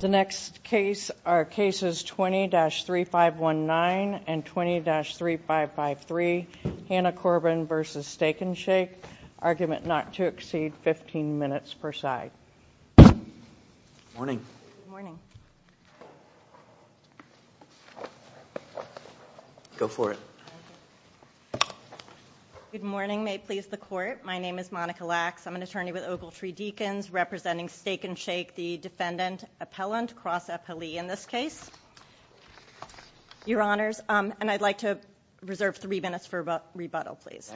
The next case are cases 20-3519 and 20-3553. Hannah Corbin v. Steak N Shake. Argument not to exceed 15 minutes per side. Good morning. Go for it. Good morning. May it please the court. My name is Monica Lacks. I'm an attorney with Ogletree Deacons representing Steak N Shake. I'd like to reserve three minutes for rebuttal, please.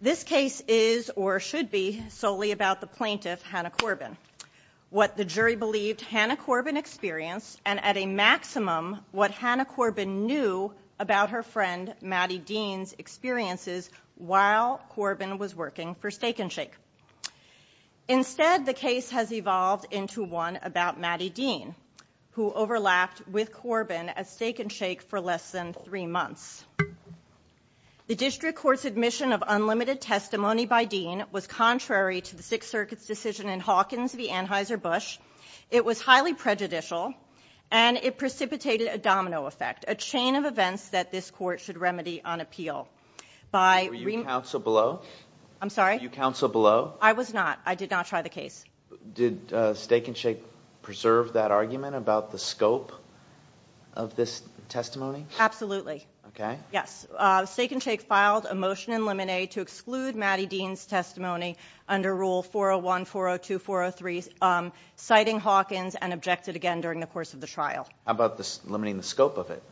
This case is or should be solely about the plaintiff, Hannah Corbin. What the jury believed Hannah Corbin experienced and at a maximum what Hannah Corbin knew about her friend Mattie Dean's experiences while Corbin was working for Steak N Shake. Instead, the case has evolved into one about Mattie Dean who overlapped with Corbin at Steak N Shake for less than three months. The district court's admission of unlimited testimony by Dean was contrary to the Sixth Circuit's decision in Hawkins v. Anheuser-Busch. It was highly prejudicial and it precipitated a domino effect, a chain of events that this court should remedy on appeal. Were you counsel below? I'm sorry? Were you counsel below? I was not. I did not try the case. Did Steak N Shake preserve that argument about the scope of this testimony? Absolutely. Okay. Yes. Steak N Shake filed a motion in limine to exclude Mattie Dean's testimony under Rule 401, 402, 403, citing Hawkins and objected again during the course of the trial. How about limiting the scope of it?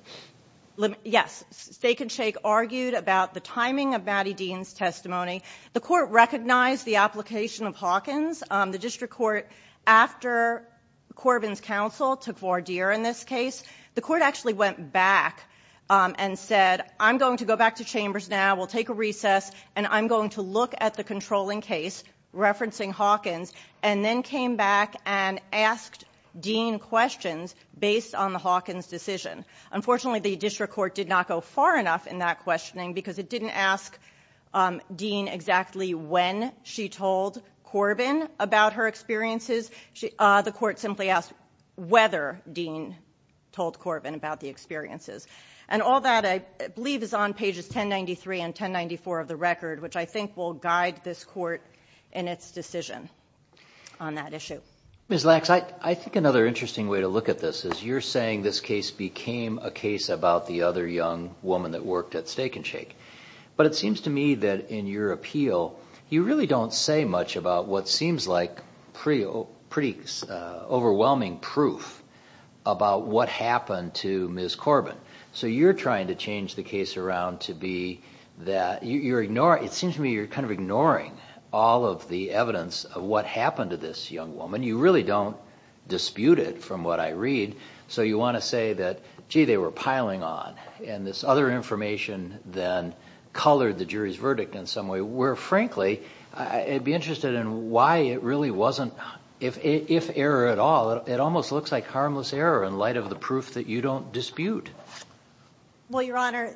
Yes. Steak N Shake argued about the timing of Mattie Dean's testimony. The court recognized the application of Hawkins. The district court, after Corbin's counsel took voir dire in this case, the court actually went back and said, I'm going to go back to Chambers now. We'll take a recess and I'm going to look at the controlling case referencing Hawkins and then came back and asked Dean questions based on the Hawkins decision. Unfortunately, the district court did not go far enough in that questioning because it didn't ask Dean exactly when she told Corbin about her experiences. The court simply asked whether Dean told Corbin about the experiences. And all that I believe is on pages 1093 and 1094 of the court's decision on that issue. Ms. Lax, I think another interesting way to look at this is you're saying this case became a case about the other young woman that worked at Steak N Shake. But it seems to me that in your appeal, you really don't say much about what seems like pretty overwhelming proof about what happened to Ms. Corbin. So you're trying to change the case around to be that you're ignoring, it seems to me you're kind of ignoring all of the evidence of what happened to this young woman. You really don't dispute it from what I read. So you want to say that, gee, they were piling on. And this other information then colored the jury's verdict in some way, where frankly, I'd be interested in why it really wasn't, if error at all, it almost looks like harmless error in light of the proof that you don't dispute. Well, Your Honor,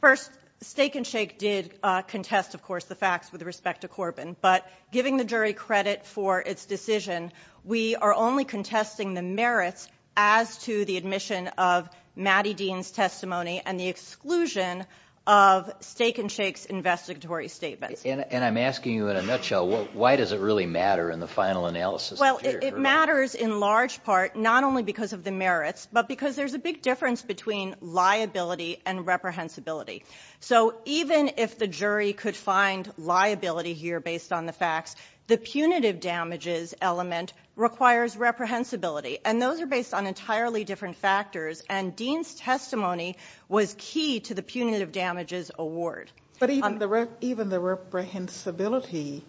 first, Steak N Shake did contest, of course, the facts with respect to Corbin. But giving the jury credit for its decision, we are only contesting the merits as to the admission of Mattie Dean's testimony and the exclusion of Steak N Shake's investigatory statements. And I'm asking you in a nutshell, why does it really matter in the final analysis? Well, it matters in large part not only because of the merits, but because there's a big difference between liability and reprehensibility. So even if the jury could find liability here based on the facts, the punitive damages element requires reprehensibility. And those are based on entirely different factors. And Dean's testimony was key to the punitive damages award. But even the reprehensibility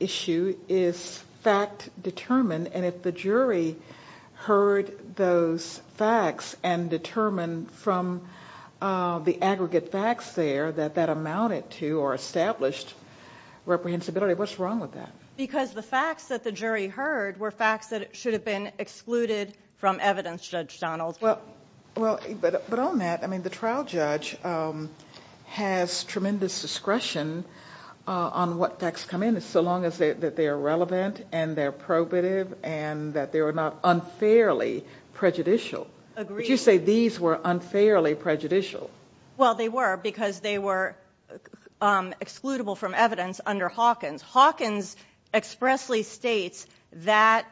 issue is fact determined. And if the jury heard those facts and determined from the aggregate facts there that that amounted to or established reprehensibility, what's wrong with that? Because the facts that the jury heard were facts that should have been excluded from evidence, Judge Donaldson. Well, but on that, I mean, the trial judge has tremendous discretion on what facts come in, so long as they're relevant and they're probative and that they were not unfairly prejudicial. Would you say these were unfairly prejudicial? Well, they were because they were excludable from evidence under Hawkins. Hawkins expressly states that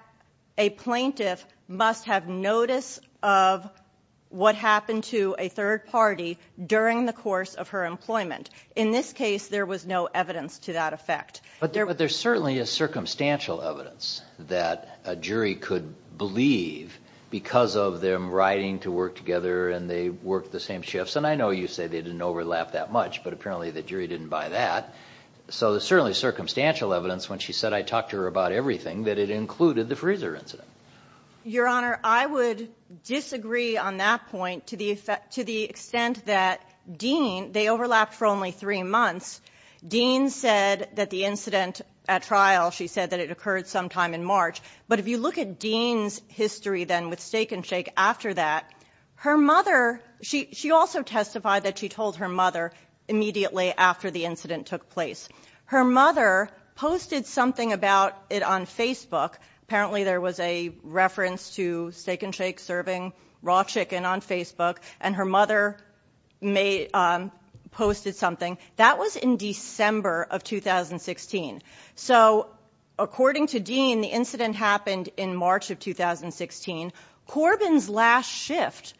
a plaintiff must have notice of what happened to a third party during the course of her employment. In this case, there was no evidence to that effect. But there's certainly a circumstantial evidence that a jury could believe because of them writing to work together and they worked the same shifts. And I know you say they didn't overlap that much, but apparently the jury didn't buy that. So there's certainly circumstantial evidence when she said I talked to her about everything that it included the freezer incident. Your Honor, I would disagree on that point to the extent that Dean, they overlapped for only three months. Dean said that the incident at trial, she said that it occurred sometime in March. But if you look at Dean's history then with Steak and Shake after that, her mother, she also testified that she told her mother immediately after the incident took place. Her mother posted something about it on Facebook. Apparently there was a reference to Steak and Shake serving raw chicken on Facebook and her mother posted something. That was in December of 2016. So according to Dean, the incident happened in March of 2016. Corbin's last shift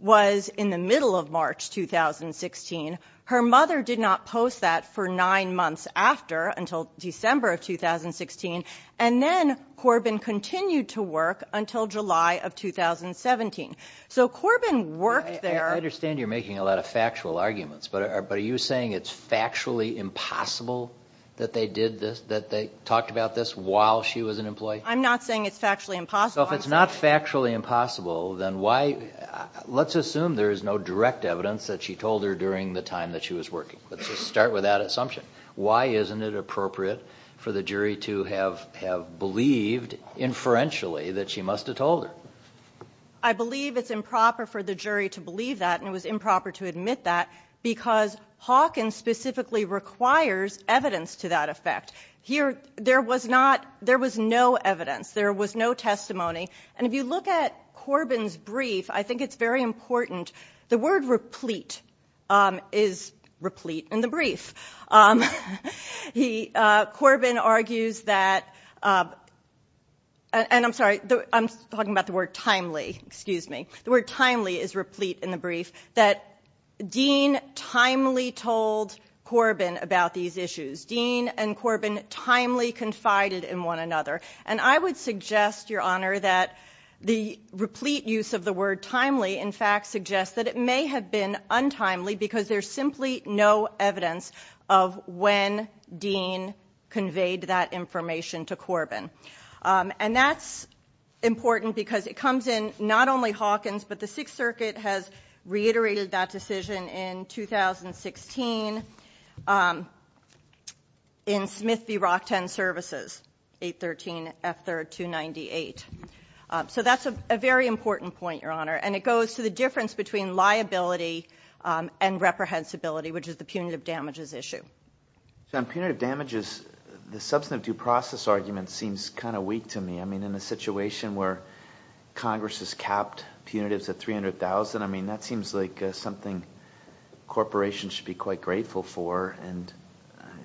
was in the middle of March 2016. Her mother did not post that for nine months after until December of 2016. And then Corbin continued to work until July of 2017. So Corbin worked there. I understand you're making a lot of factual arguments, but are you saying it's factually impossible that they did this, that they talked about this while she was an employee? I'm not saying it's factually impossible. So if it's not factually impossible, then why, let's assume there is no direct evidence that she told her during the time that she was working. Let's just start with that assumption. Why isn't it appropriate for the jury to have believed inferentially that she must have told her? I believe it's improper for the jury to believe that and it was improper to admit that because Hawkins specifically requires evidence to that effect. Here, there was no evidence. There was no testimony. And if you look at Corbin's brief, I think it's very important. The word replete is replete in the brief. He, Corbin argues that, and I'm sorry, I'm talking about the word timely, excuse me. The word timely is replete in the brief that Dean timely told Corbin about these issues. Dean and Corbin timely confided in one another. And I would suggest, Your Honor, that the replete use of the word timely, in fact, suggests that it may have been untimely because there's simply no evidence of when Dean conveyed that information to Corbin. And that's important because it comes in not only Hawkins, but the Sixth Circuit has reiterated that decision in 2016 in Smith v. Rockton Services, 813 F3rd 298. So that's a very important point, Your Honor. And it goes to the difference between liability and reprehensibility, which is the punitive damages issue. So on punitive damages, the substantive due process argument seems kind of weak to me. I mean, in a situation where Congress has capped punitives at $300,000, I mean, that seems like something corporations should be quite grateful for. And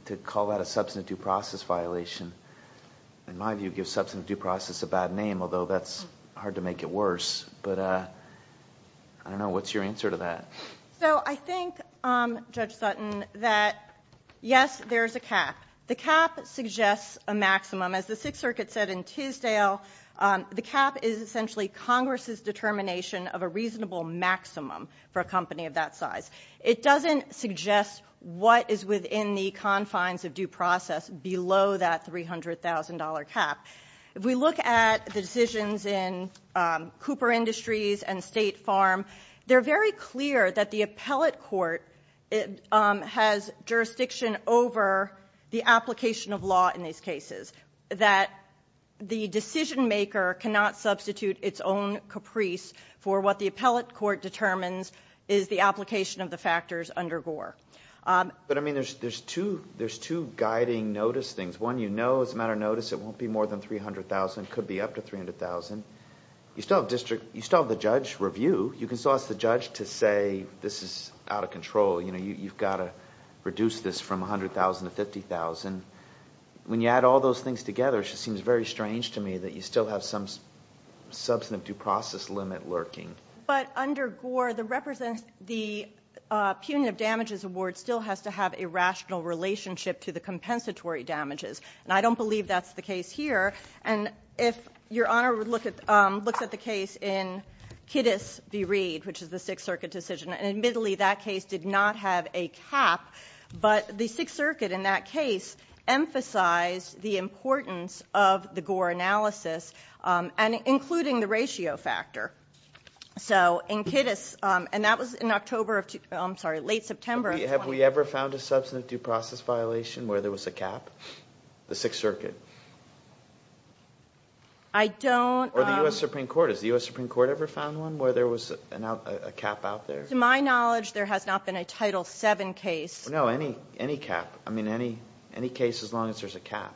to call that a substantive due process violation, in my view, gives substantive due process a bad name, although that's hard to make it worse. But I don't know. What's your answer to that? So I think, Judge Sutton, that yes, there's a cap. The cap suggests a maximum. As the Court of Appeal, the cap is essentially Congress's determination of a reasonable maximum for a company of that size. It doesn't suggest what is within the confines of due process below that $300,000 cap. If we look at the decisions in Cooper Industries and State Farm, they're very clear that the appellate court has jurisdiction over the application of law in these cases, that the decision-maker cannot substitute its own caprice for what the appellate court determines is the application of the factors under Gore. But, I mean, there's two guiding notice things. One, you know as a matter of notice it won't be more than $300,000. It could be up to $300,000. You still have the judge review. You can still ask the judge to say this is out of control. You've got to reduce this from $100,000 to $50,000. When you add all those things together, it just seems very strange to me that you still have some substantive due process limit lurking. But under Gore, the representative, the punitive damages award still has to have a rational relationship to the compensatory damages. And I don't believe that's the case here. And if Your Honor would look at, looks at the case in Kiddus v. Reed, which is the Sixth Circuit in that case, emphasized the importance of the Gore analysis, and including the ratio factor. So in Kiddus, and that was in October of, I'm sorry, late September of 2020. Have we ever found a substantive due process violation where there was a cap? The Sixth Circuit? I don't. Or the U.S. Supreme Court. Has the U.S. Supreme Court ever found one where there was a cap out there? To my knowledge, there has not been a Title VII case. No, any cap. I mean, any case as long as there's a cap.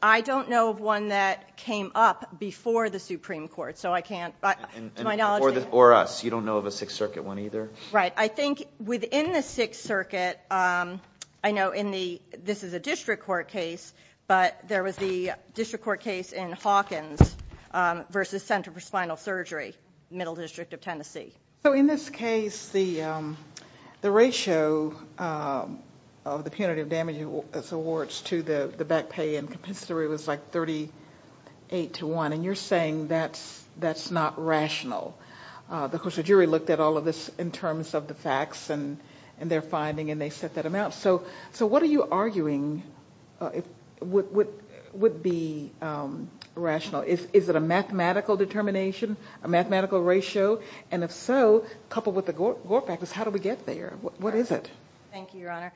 I don't know of one that came up before the Supreme Court. So I can't, to my knowledge they haven't. Or us. You don't know of a Sixth Circuit one either? Right. I think within the Sixth Circuit, I know in the, this is a district court case, but there was the district court case in Hawkins v. Center for Spinal Surgery, Middle District of Tennessee. So in this case, the ratio of the punitive damage as awards to the back pay and compensatory was like 38 to 1, and you're saying that's not rational. Of course, the jury looked at all of this in terms of the facts and their finding, and they set that amount. So what are you arguing would be rational? Is it a mathematical determination, a mathematical ratio? And if so, coupled with the Gore factors, how do we get there? What is it? Thank you, Your Honor.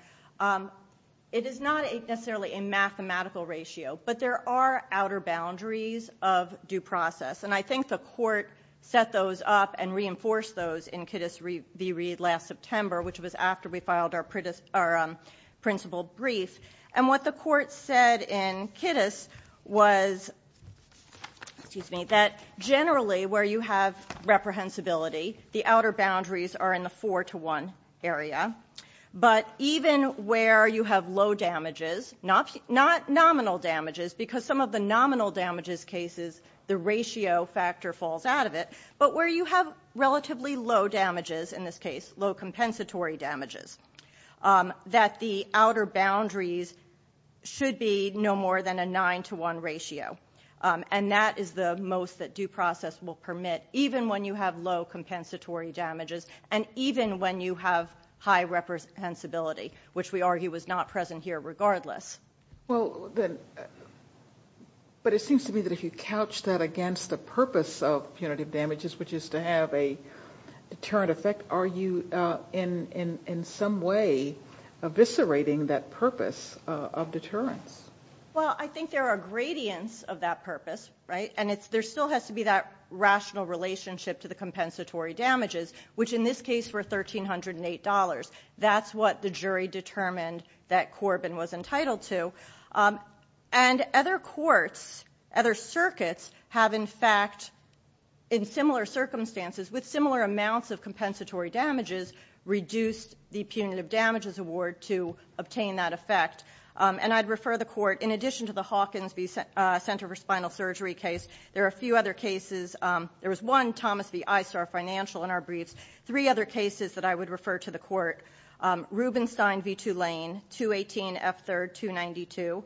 It is not necessarily a mathematical ratio, but there are outer boundaries of due process. And I think the court set those up and reinforced those in Kittis v. Reed last September, which was after we filed our principal brief. And what the outer boundaries are in the 4 to 1 area, but even where you have low damages, not nominal damages, because some of the nominal damages cases, the ratio factor falls out of it, but where you have relatively low damages in this case, low compensatory damages, that the outer boundaries should be no more than a 9 to 1 ratio. And that is the most that due process will permit, even when you have low compensatory damages, and even when you have high reprehensibility, which we argue is not present here regardless. But it seems to me that if you couch that against the purpose of punitive damages, which is to have a deterrent effect, are you in some way eviscerating that purpose of deterrence? Well, I think there are gradients of that purpose, right? And there still has to be that rational relationship to the compensatory damages, which in this case were $1,308. That's what the jury determined that Corbin was entitled to. And other courts, other circuits have in fact, in similar circumstances, with similar amounts of compensatory damages, reduced the court, in addition to the Hawkins v. Center for Spinal Surgery case, there are a few other cases. There was one, Thomas v. ISAR Financial, in our briefs. Three other cases that I would refer to the court. Rubenstein v. Tulane, 218 F. 3rd, 292.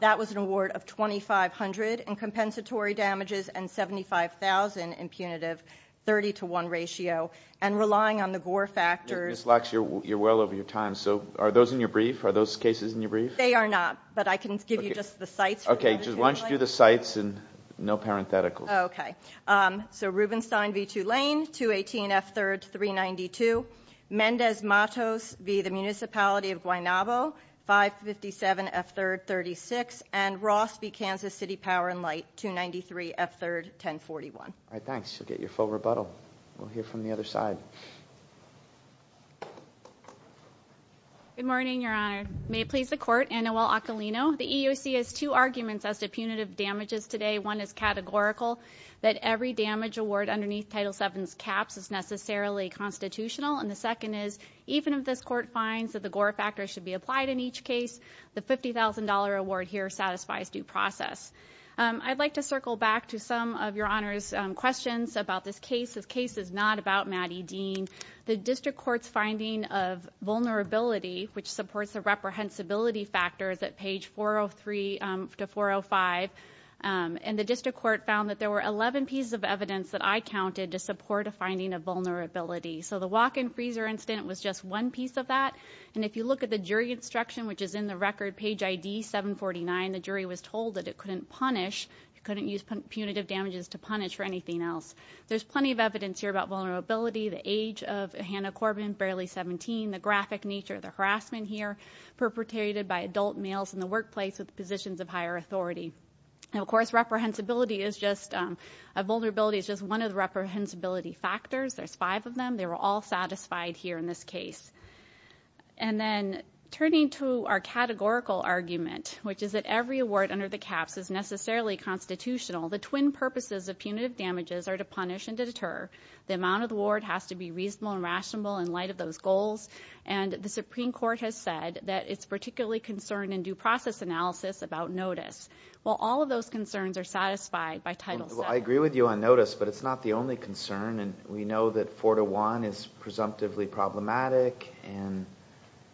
That was an award of $2,500 in compensatory damages and $75,000 in punitive, 30 to 1 ratio. And relying on the Gore factors Ms. Lacks, you're well over your time. So are those in your brief? Are those cases in your brief? They are not, but I can give you just the sites. Okay. Just why don't you do the sites and no parenthetical. Okay. So Rubenstein v. Tulane, 218 F. 3rd, 392. Mendez Matos v. The Municipality of Guaynabo, 557 F. 3rd, 36. And Ross v. Kansas City Power and Light, 293 F. 3rd, 1041. All right, thanks. You'll get your full rebuttal. We'll hear from the other side. Good morning, Your Honor. May it please the court, Anuel Acalino. The EEOC has two arguments as to punitive damages today. One is categorical, that every damage award underneath Title VII's caps is necessarily constitutional. And the second is, even if this court finds that the Gore factors should be applied in each case, the $50,000 award here satisfies due process. I'd like to circle back to some of Your Honor's questions about this case. This case is not about Matty Dean. The District Court's finding of vulnerability, which supports the reprehensibility factors at page 403 to 405, and the District Court found that there were 11 pieces of evidence that I counted to support a finding of vulnerability. So the walk-in freezer incident was just one piece of that. And if you look at the jury instruction, which is in the record, page ID 749, the jury was told that it couldn't punish, it couldn't use punitive damages to punish. The age of Hannah Corbin, barely 17, the graphic nature of the harassment here, perpetrated by adult males in the workplace with positions of higher authority. Of course, reprehensibility is just, a vulnerability is just one of the reprehensibility factors. There's five of them. They were all satisfied here in this case. And then, turning to our categorical argument, which is that every award under the caps is necessarily constitutional, the twin purposes of punitive damages are to punish and deter. The amount of the award has to be reasonable and rational in light of those goals. And the Supreme Court has said that it's particularly concerned in due process analysis about notice. Well, all of those concerns are satisfied by Title VII. Well, I agree with you on notice, but it's not the only concern. And we know that four to one is presumptively problematic, and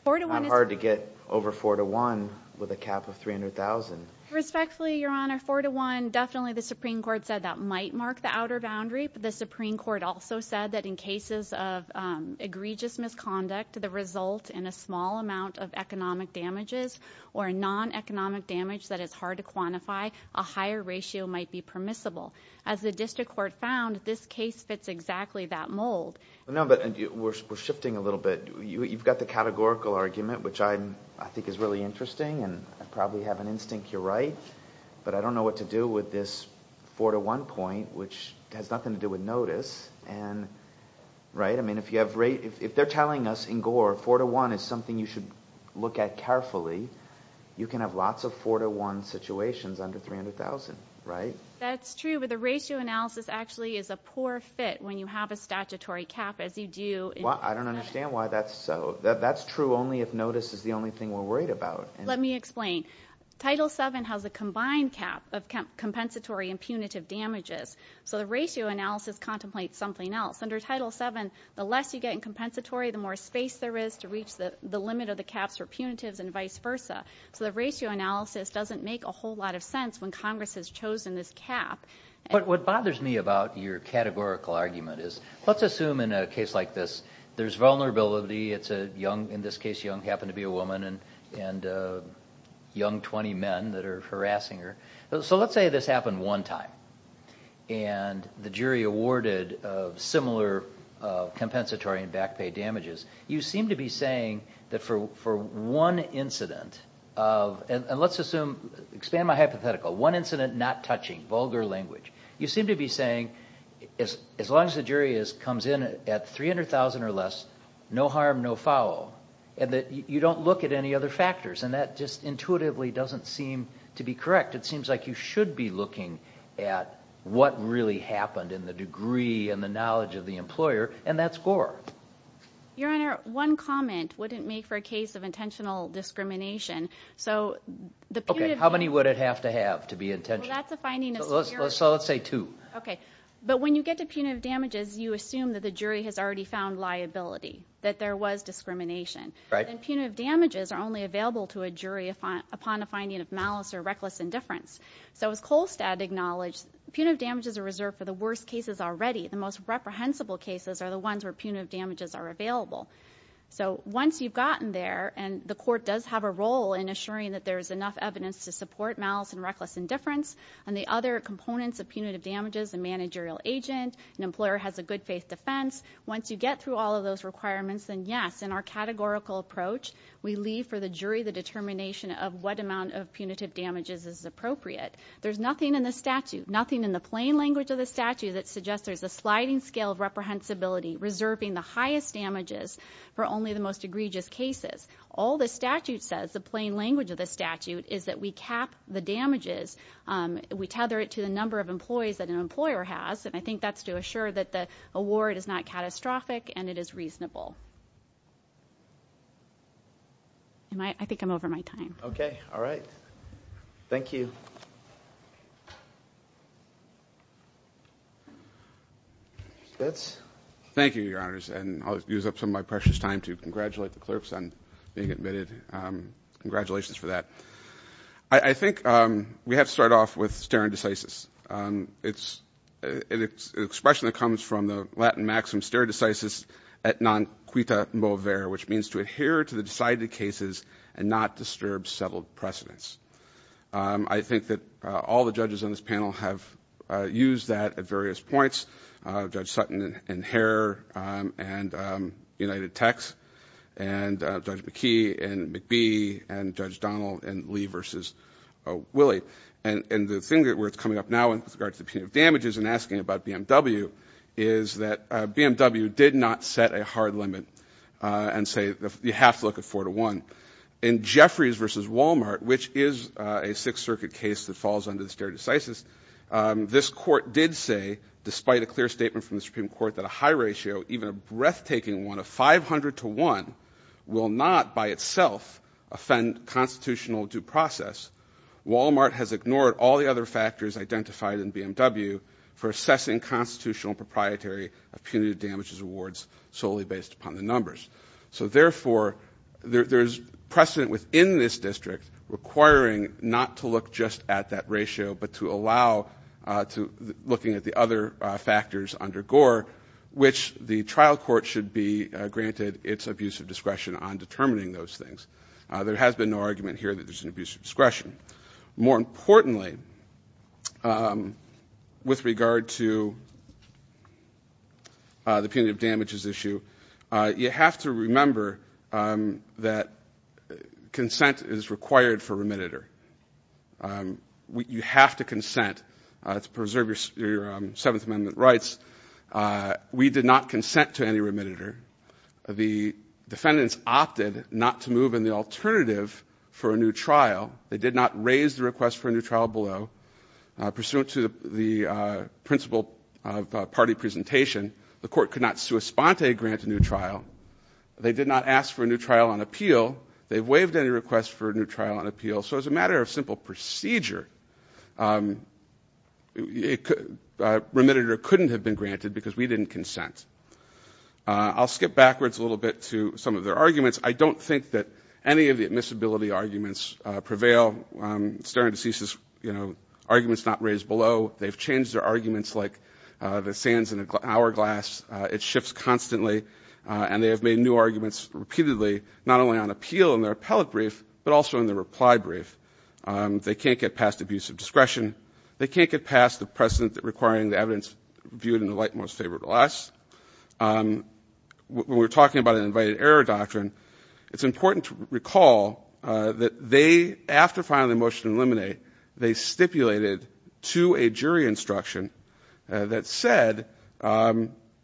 not hard to get over four to one with a cap of 300,000. Respectfully, Your Honor, four to one, definitely the Supreme Court said that might mark the outer boundary. But the Supreme Court also said that in cases of egregious misconduct, the result in a small amount of economic damages or non-economic damage that is hard to quantify, a higher ratio might be permissible. As the district court found, this case fits exactly that mold. No, but we're shifting a little bit. You've got the categorical argument, which I think is really interesting, and I probably have an instinct you're right. But I don't know what to do with this four to one point, which has nothing to do with notice. And, right? I mean, if you have rate, if they're telling us in Gore, four to one is something you should look at carefully, you can have lots of four to one situations under 300,000, right? That's true, but the ratio analysis actually is a poor fit when you have a statutory cap as you do in- Well, I don't understand why that's so. That's true only if notice is the only thing we're worried about. Let me explain. Title seven has a combined cap of compensatory and punitive damages. So the ratio analysis contemplates something else. Under title seven, the less you get in compensatory, the more space there is to reach the limit of the caps for punitives and vice versa. So the ratio analysis doesn't make a whole lot of sense when Congress has chosen this cap. But what bothers me about your categorical argument is, let's assume in a case like this, there's vulnerability. It's a young, in this case, young, happened to be a woman and young 20 men that are harassing her. So let's say this happened one time and the jury awarded similar compensatory and back pay damages. You seem to be saying that for one incident of, and let's assume, expand my hypothetical, one incident not touching, vulgar language, you seem to be saying, as long as the jury comes in at 300,000 or less, no harm, no foul, and that you don't look at any other factors. And that just intuitively doesn't seem to be correct. It seems like you should be looking at what really happened in the degree and the knowledge of the employer, and that's gore. Your Honor, one comment wouldn't make for a case of intentional discrimination. So the punitive... How many would it have to have to be intentional? So that's a finding of... So let's say two. Okay. But when you get to punitive damages, you assume that the jury has already found liability, that there was discrimination. Right. And punitive damages are only available to a jury upon a finding of malice or reckless indifference. So as Kolstad acknowledged, punitive damages are reserved for the worst cases already. The most reprehensible cases are the ones where punitive damages are available. So once you've gotten there and the court does have a role in assuring that there's enough evidence to support malice and reckless indifference, and the other components of punitive damages, a managerial agent, an employer has a good faith defense, once you get through all of those requirements, then yes, in our categorical approach, we leave for the jury the determination of what amount of punitive damages is appropriate. There's nothing in the statute, nothing in the plain language of the statute that suggests there's a sliding scale of reprehensibility, reserving the highest damages for only the most egregious cases. All the statute says, the plain language of the statute, is that we cap the damages, we tether it to the number of employees that an employer has, and I think that's to assure that the award is not catastrophic and it is reasonable. I think I'm over my time. Okay. All right. Thank you. Thank you, Your Honors, and I'll use up some of my precious time to congratulate the clerks on being admitted. Congratulations for that. I think we have to start off with stare decisis. It's an expression that comes from the Latin maxim, stare decisis et non quita movere, which means to adhere to the decided cases and not disturb settled precedents. I think that all the judges on this panel have used that at various points, Judge Sutton and Herr and United Techs and Judge McKee and McBee and Judge Donald and Lee versus Willie, and the thing where it's coming up now with regard to punitive damages and asking about BMW is that BMW did not set a hard limit and say, you have to look at four to one. In Jeffries versus Wal-Mart, which is a Sixth Circuit case that falls under the stare decisis, this Court did say, despite a clear statement from the Supreme Court that a high ratio, even a breathtaking one of 500 to one, will not by itself offend constitutional due process. Wal-Mart has ignored all the other factors identified in BMW for assessing constitutional proprietary of punitive damages awards solely based upon the numbers. So therefore, there's precedent within this district requiring not to look just at that ratio but to allow, looking at the other factors under Gore, which the trial court should be granted its abuse of discretion on determining those things. There has been no argument here that there's an abuse of discretion. More importantly, with regard to the punitive damages issue, you have to remember that consent is required for remittitor. You have to consent to preserve your Seventh Amendment rights. We did not consent to any remittitor. The defendants opted not to move in the alternative for a new trial. They did not raise the request for a new trial below. Pursuant to the principle of party presentation, the Court could not sua sponte grant a new trial. They did not ask for a new trial on appeal. They waived any request for a new trial on appeal. So as a matter of simple procedure, remittitor couldn't have been granted because we didn't consent. I'll skip backwards a little bit to some of their arguments. I don't think that any of the admissibility arguments prevail. Staring Deceases, you know, argument's not raised below. They've changed their arguments like the sands in an hourglass. It shifts constantly and they have made new arguments repeatedly, not only on appeal in their appellate brief but also in their reply brief. They can't get past abuse of discretion. They can't get past the precedent requiring the evidence viewed in the light most favorable to us. When we're talking about an invited error doctrine, it's important to recall that they, after filing the motion to eliminate, they stipulated to a jury instruction that said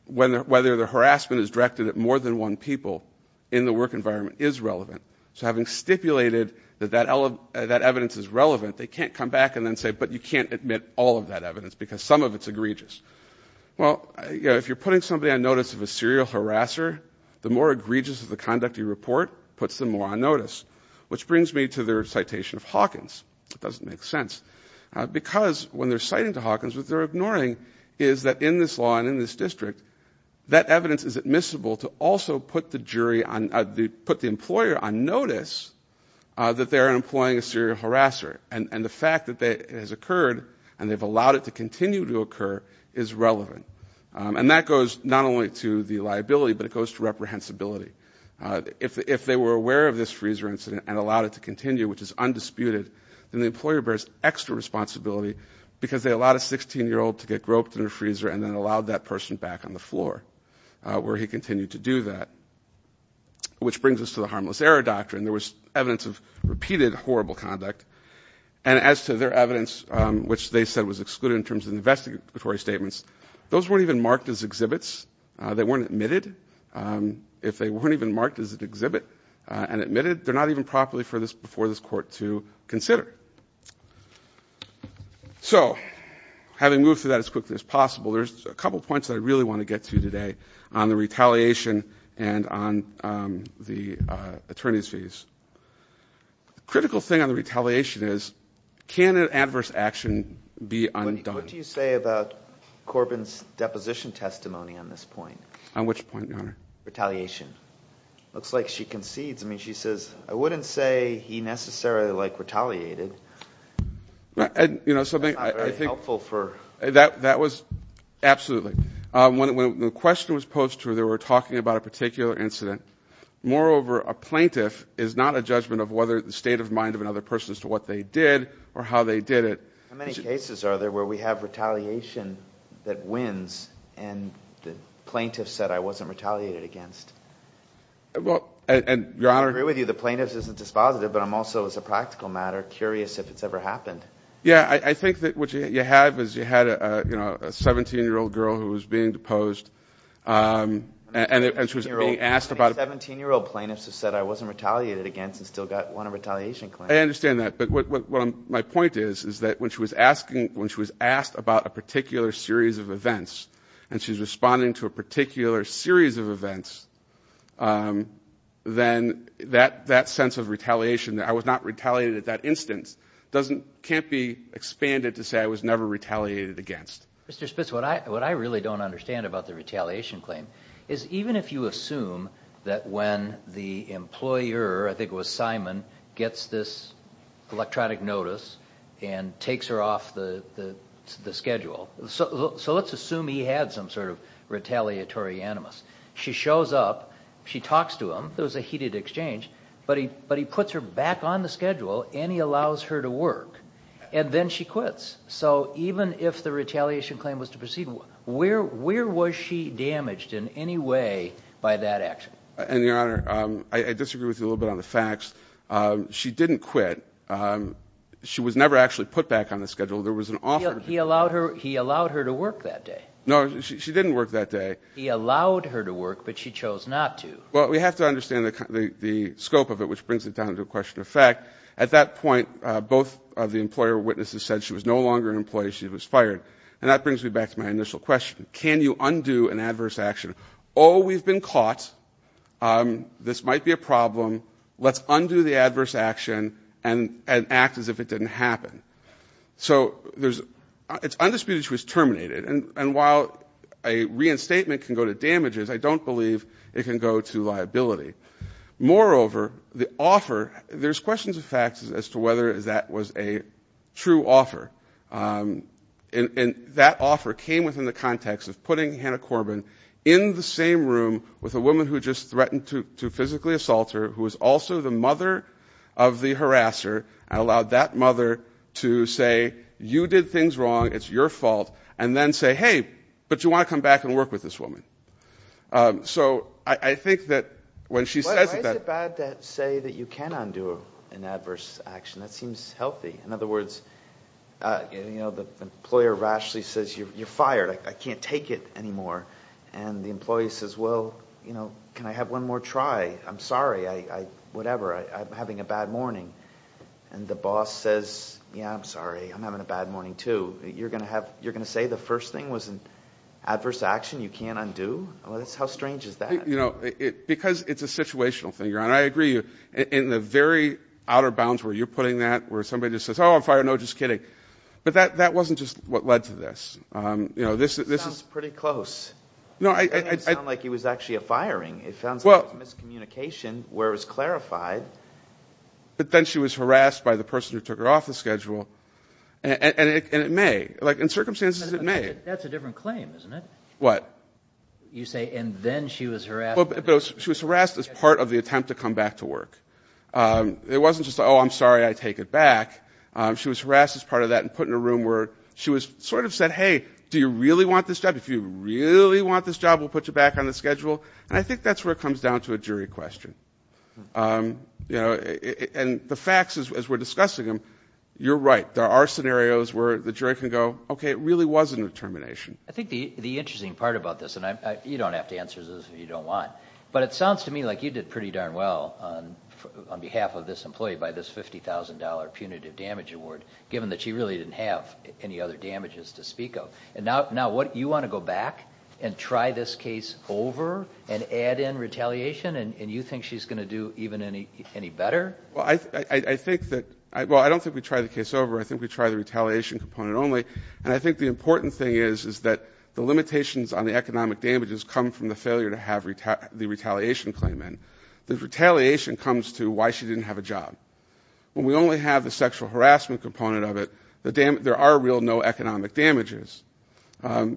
whether the harassment is directed at more than one people in the work environment is relevant. So having stipulated that that evidence is relevant, they can't come back and then say, but you can't admit all of that evidence because some of it's egregious. Well, if you're putting somebody on notice of a serial harasser, the more egregious of the conduct you report puts them more on notice, which brings me to their citation of Hawkins. It doesn't make sense because when they're citing to Hawkins, what they're ignoring is that in this law and in this district, that evidence is admissible to also put the jury on, put the employer on notice that they're employing a serial harasser. And the fact that it has occurred and they've allowed it to continue to occur is relevant. And that goes not only to the liability, but it goes to reprehensibility. If they were aware of this freezer incident and allowed it to continue, which is undisputed, then the employer bears extra responsibility because they allowed a 16-year-old to get groped in a freezer and then allowed that person back on the floor, where he continued to do that. Which brings us to the harmless error doctrine. There was evidence of repeated horrible conduct. And as to their evidence, which they said was excluded in terms of investigatory statements, those weren't even marked as exhibits. They weren't admitted. If they weren't even marked as an exhibit and admitted, they're not even properly for this, before this Court, to consider. So having moved through that as quickly as possible, there's a couple points that I really want to get to today on the retaliation and on the attorney's fees. The critical thing on the retaliation is, can an adverse action be undone? What do you say about Corbin's deposition testimony on this point? On which point, Your Honor? Retaliation. Looks like she concedes. I mean, she says, I wouldn't say he necessarily, like, retaliated. That's not very helpful for... That was... Absolutely. When the question was posed to her, they were talking about a particular incident. Moreover, a plaintiff is not a judgment of whether the state of mind of another person as to what they did or how they did it. How many cases are there where we have retaliation that wins and the plaintiff said, I wasn't retaliated against? Well, Your Honor... I agree with you, the plaintiff isn't dispositive, but I'm also, as a practical matter, curious if it's ever happened. Yeah, I think that what you have is you had a 17-year-old girl who was being deposed and she was being asked about... 17-year-old plaintiffs who said I wasn't retaliated against and still got one retaliation claim. I understand that. But what my point is, is that when she was asking, when she was asked about a particular series of events and she's responding to a particular series of events, then that sense of retaliation, that I was not retaliated at that instance, can't be expanded to say I was never retaliated against. Mr. Spitz, what I really don't understand about the retaliation claim is even if you assume that when the employer, I think it was Simon, gets this electronic notice and takes her off the schedule, so let's assume he had some sort of retaliatory animus. She shows up, she talks to him, there was a heated exchange, but he puts her back on the schedule and he allows her to work and then she quits. So even if the retaliation claim was to proceed, where was she damaged in any way by that action? And Your Honor, I disagree with you a little bit on the facts. She didn't quit. She was never actually put back on the schedule. There was an offer... He allowed her to work that day. No, she didn't work that day. He allowed her to work, but she chose not to. Well, we have to understand the scope of it, which brings it down to a question of fact. At that point, both of the employer witnesses said she was no longer an employee, she was fired. And that brings me back to my initial question. Can you undo an adverse action? Oh, we've been caught. This might be a problem. Let's undo the adverse action and act as if it didn't happen. So it's undisputed she was terminated. And while a reinstatement can go to damages, I don't believe it can go to liability. Moreover, the offer... There's questions of facts as to whether that was a true offer. And that offer came within the context of putting Hannah Corbin in the same room with a woman who just threatened to physically assault her, who was also the mother of the harasser, and allowed that mother to say, you did things wrong, it's your fault, and then say, hey, but you want to come back and work with this woman. Why is it bad to say that you can undo an adverse action? That seems healthy. In other words, the employer rashly says, you're fired, I can't take it anymore. And the employee says, well, can I have one more try? I'm sorry, whatever, I'm having a bad morning. And the boss says, yeah, I'm sorry, I'm having a bad morning too. You're going to say the first thing was an adverse action you can't undo? How strange is that? Because it's a situational thing, and I agree, in the very outer bounds where you're putting that, where somebody just says, oh, I'm fired, no, just kidding. But that wasn't just what led to this. This sounds pretty close. It didn't sound like it was actually a firing. It sounds like it was miscommunication where it was clarified. But then she was harassed by the person who took her off the schedule, and it may. In the circumstances, it may. That's a different claim, isn't it? What? You say, and then she was harassed. But she was harassed as part of the attempt to come back to work. It wasn't just, oh, I'm sorry, I take it back. She was harassed as part of that and put in a room where she was sort of said, hey, do you really want this job? If you really want this job, we'll put you back on the schedule. And I think that's where it comes down to a jury question. And the facts, as we're discussing them, you're right. There are scenarios where the jury can go, okay, it really was a determination. I think the interesting part about this, and you don't have to answer this if you don't want, but it sounds to me like you did pretty darn well on behalf of this employee by this $50,000 punitive damage award, given that she really didn't have any other damages to speak of. And now what, you want to go back and try this case over and add in retaliation, and you think she's going to do even any better? Well, I think that, well, I don't think we try the case over. I think we try the retaliation component only. And I think the important thing is, is that the limitations on the economic damages come from the failure to have the retaliation claim in. The retaliation comes to why she didn't have a job. When we only have the sexual harassment component of it, there are real no economic damages,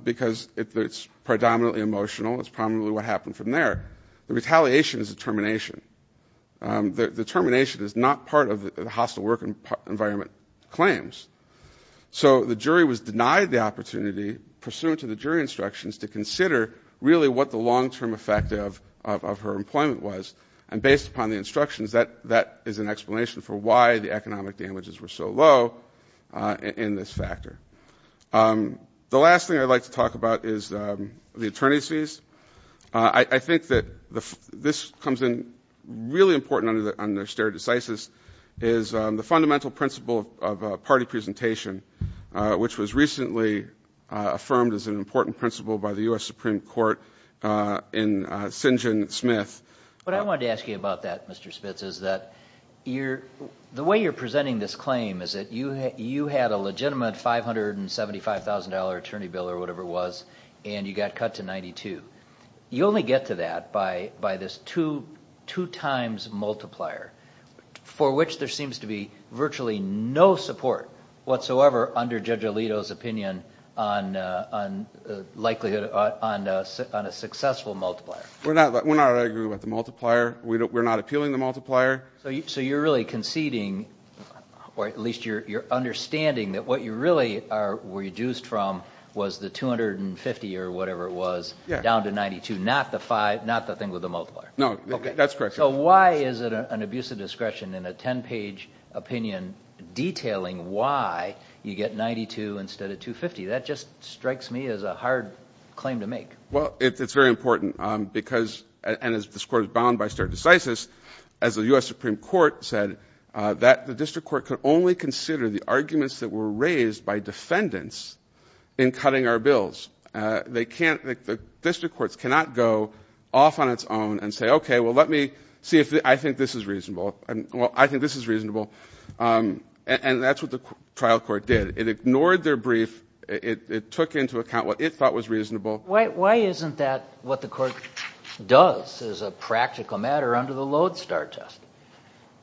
because it's predominantly emotional. It's probably what happened from there. The retaliation is a determination. The determination is not part of the hostile work environment claims. So the jury was denied the opportunity, pursuant to the jury instructions, to consider really what the long-term effect of her employment was. And based upon the instructions, that is an explanation for why the economic damages were so low in this factor. The last thing I'd like to talk about is the attorney's fees. I think that this comes in really important under stare decisis, is the fundamental principle of party presentation, which was recently affirmed as an important principle by the U.S. Supreme Court in Sinjin Smith. What I wanted to ask you about that, Mr. Spitz, is that the way you're presenting this claim is that you had a legitimate $575,000 attorney bill, or whatever it was, and you got cut to $92,000. You only get to that by this two-times multiplier, for which there seems to be virtually no support whatsoever under Judge Alito's opinion on a successful multiplier. We're not arguing about the multiplier. We're not appealing the multiplier. So you're really conceding, or at least you're understanding that what you really are reduced from was the $250,000, or whatever it was, down to $92,000, not the thing with the multiplier. No, that's correct. So why is it an abuse of discretion in a 10-page opinion detailing why you get $92,000 instead of $250,000? That just strikes me as a hard claim to make. Well, it's very important, because, and this Court is bound by stare decisis, as the U.S. Supreme Court said, that the district court could only consider the arguments that were in cutting our bills. They can't, the district courts cannot go off on its own and say, okay, well, let me see if I think this is reasonable. Well, I think this is reasonable. And that's what the trial court did. It ignored their brief. It took into account what it thought was reasonable. Why isn't that what the Court does as a practical matter under the Lodestar test?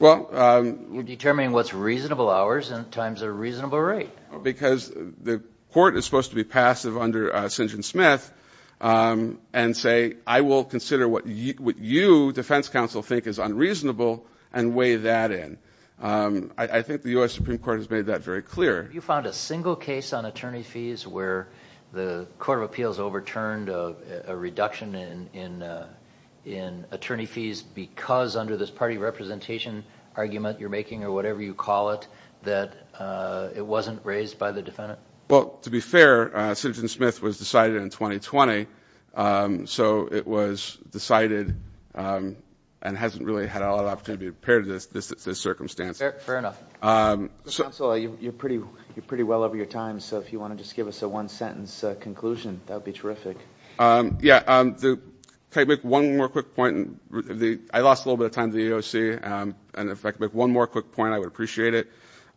You're determining what's reasonable hours and times a reasonable rate. Because the Court is supposed to be passive under Syngin-Smith and say, I will consider what you, defense counsel, think is unreasonable and weigh that in. I think the U.S. Supreme Court has made that very clear. You found a single case on attorney fees where the Court of Appeals overturned a reduction in attorney fees because under this party representation argument you're making or whatever you call it, that it wasn't raised by the defendant? Well, to be fair, Syngin-Smith was decided in 2020. So it was decided and hasn't really had a lot of opportunity to be prepared to this circumstance. Fair enough. Counsel, you're pretty well over your time. So if you want to just give us a one sentence conclusion, that would be terrific. Yeah. Can I make one more quick point? I lost a little bit of time to the AOC. And if I could make one more quick point, I would appreciate it.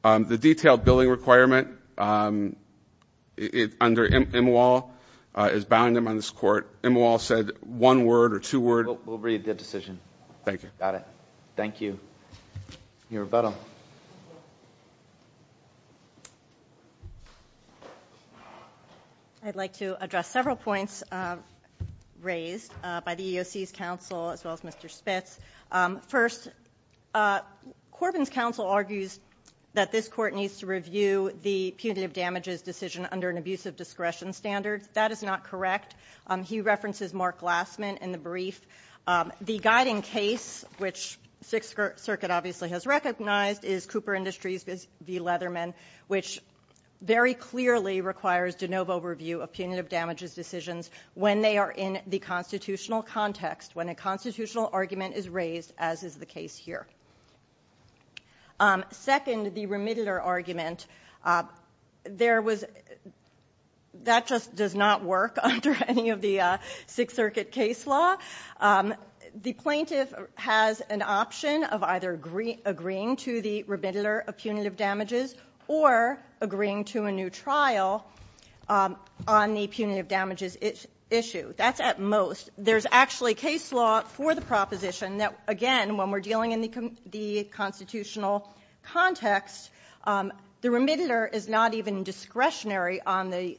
The detailed billing requirement under Imawal is bound in this Court. Imawal said one word or two words. We'll read the decision. Thank you. Got it. Thank you. Your rebuttal. I'd like to address several points raised by the AOC's counsel as well as Mr. Spitz. First, Corbyn's counsel argues that this Court needs to review the punitive damages decision under an abuse of discretion standard. That is not correct. He references Mark Glassman in the brief. The guiding case, which Sixth Circuit obviously has recognized, is Cooper Industries v. Leatherman, which very clearly requires de novo review of punitive damages decisions when they are in the constitutional context, when a constitutional argument is raised, as is the case here. Second, the remittler argument. That just does not work under any of the Sixth Circuit case law. The plaintiff has an option of either agreeing to the remittler of punitive damages or agreeing to a new trial on the punitive damages issue. That's at most. There's actually case law for the proposition that, again, when we're dealing in the constitutional context, the remittler is not even discretionary on the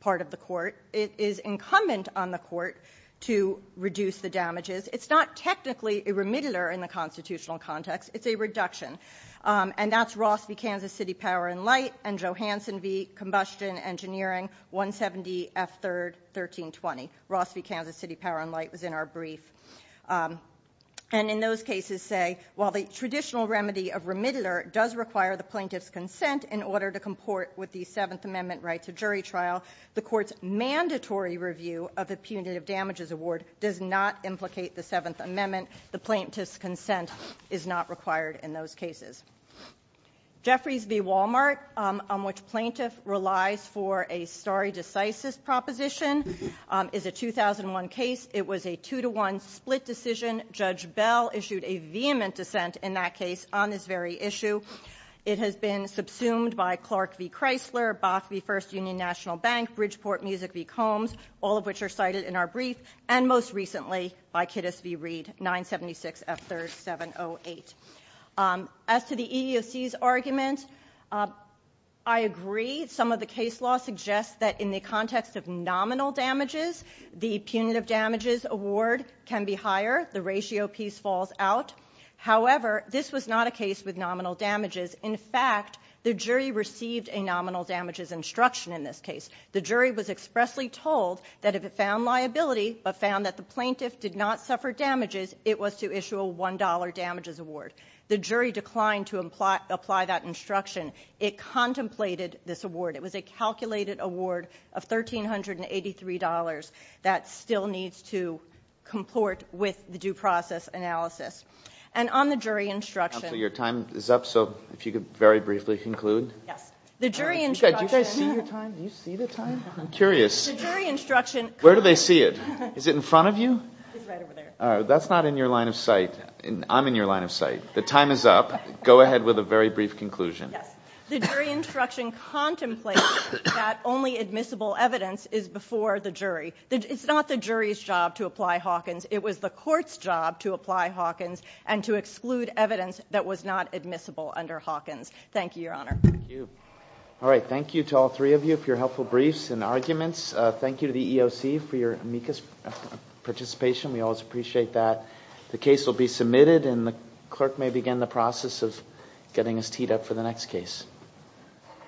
part of the Court. It is incumbent on the Court to reduce the damages. It's not technically a remittler in the constitutional context. It's a reduction. And that's Ross v. Kansas City Power and Light and Johansson v. Combustion Engineering, 170 F. 3rd, 1320. Ross v. Kansas City Power and Light was in our brief. And in those cases, say, while the traditional remedy of remittler does require the plaintiff's consent in order to comport with the Seventh Amendment right to jury trial, the Court's mandatory review of the punitive damages award does not implicate the Seventh Amendment. Consent is not required in those cases. Jeffries v. Walmart, on which plaintiff relies for a stare decisis proposition, is a 2001 case. It was a two-to-one split decision. Judge Bell issued a vehement dissent in that case on this very issue. It has been subsumed by Clark v. Chrysler, Bach v. First Union National Bank, Bridgeport Music v. Combs, all of which are cited in our brief, and most recently by Kittis v. Reed, 976 F. 3rd, 708. As to the EEOC's argument, I agree. Some of the case law suggests that in the context of nominal damages, the punitive damages award can be higher. The ratio piece falls out. However, this was not a case with nominal damages. In fact, the jury received a nominal damages instruction in this case. The jury was expressly told that if it found liability but found that the plaintiff did not suffer damages, it was to issue a $1 damages award. The jury declined to apply that instruction. It contemplated this award. It was a calculated award of $1,383 that still needs to comport with the due process analysis. And on the jury instruction — So your time is up, so if you could very briefly conclude. Yes. The jury instruction — Where do they see it? Is it in front of you? It's right over there. That's not in your line of sight. I'm in your line of sight. The time is up. Go ahead with a very brief conclusion. Yes. The jury instruction contemplated that only admissible evidence is before the jury. It's not the jury's job to apply Hawkins. It was the court's job to apply Hawkins and to exclude evidence that was not admissible under Hawkins. Thank you, Your Honor. Thank you. All right. Thank you to all three of you for your helpful briefs and arguments. Thank you to the EOC for your amicus participation. We always appreciate that. The case will be submitted and the clerk may begin the process of getting us teed up for the next case.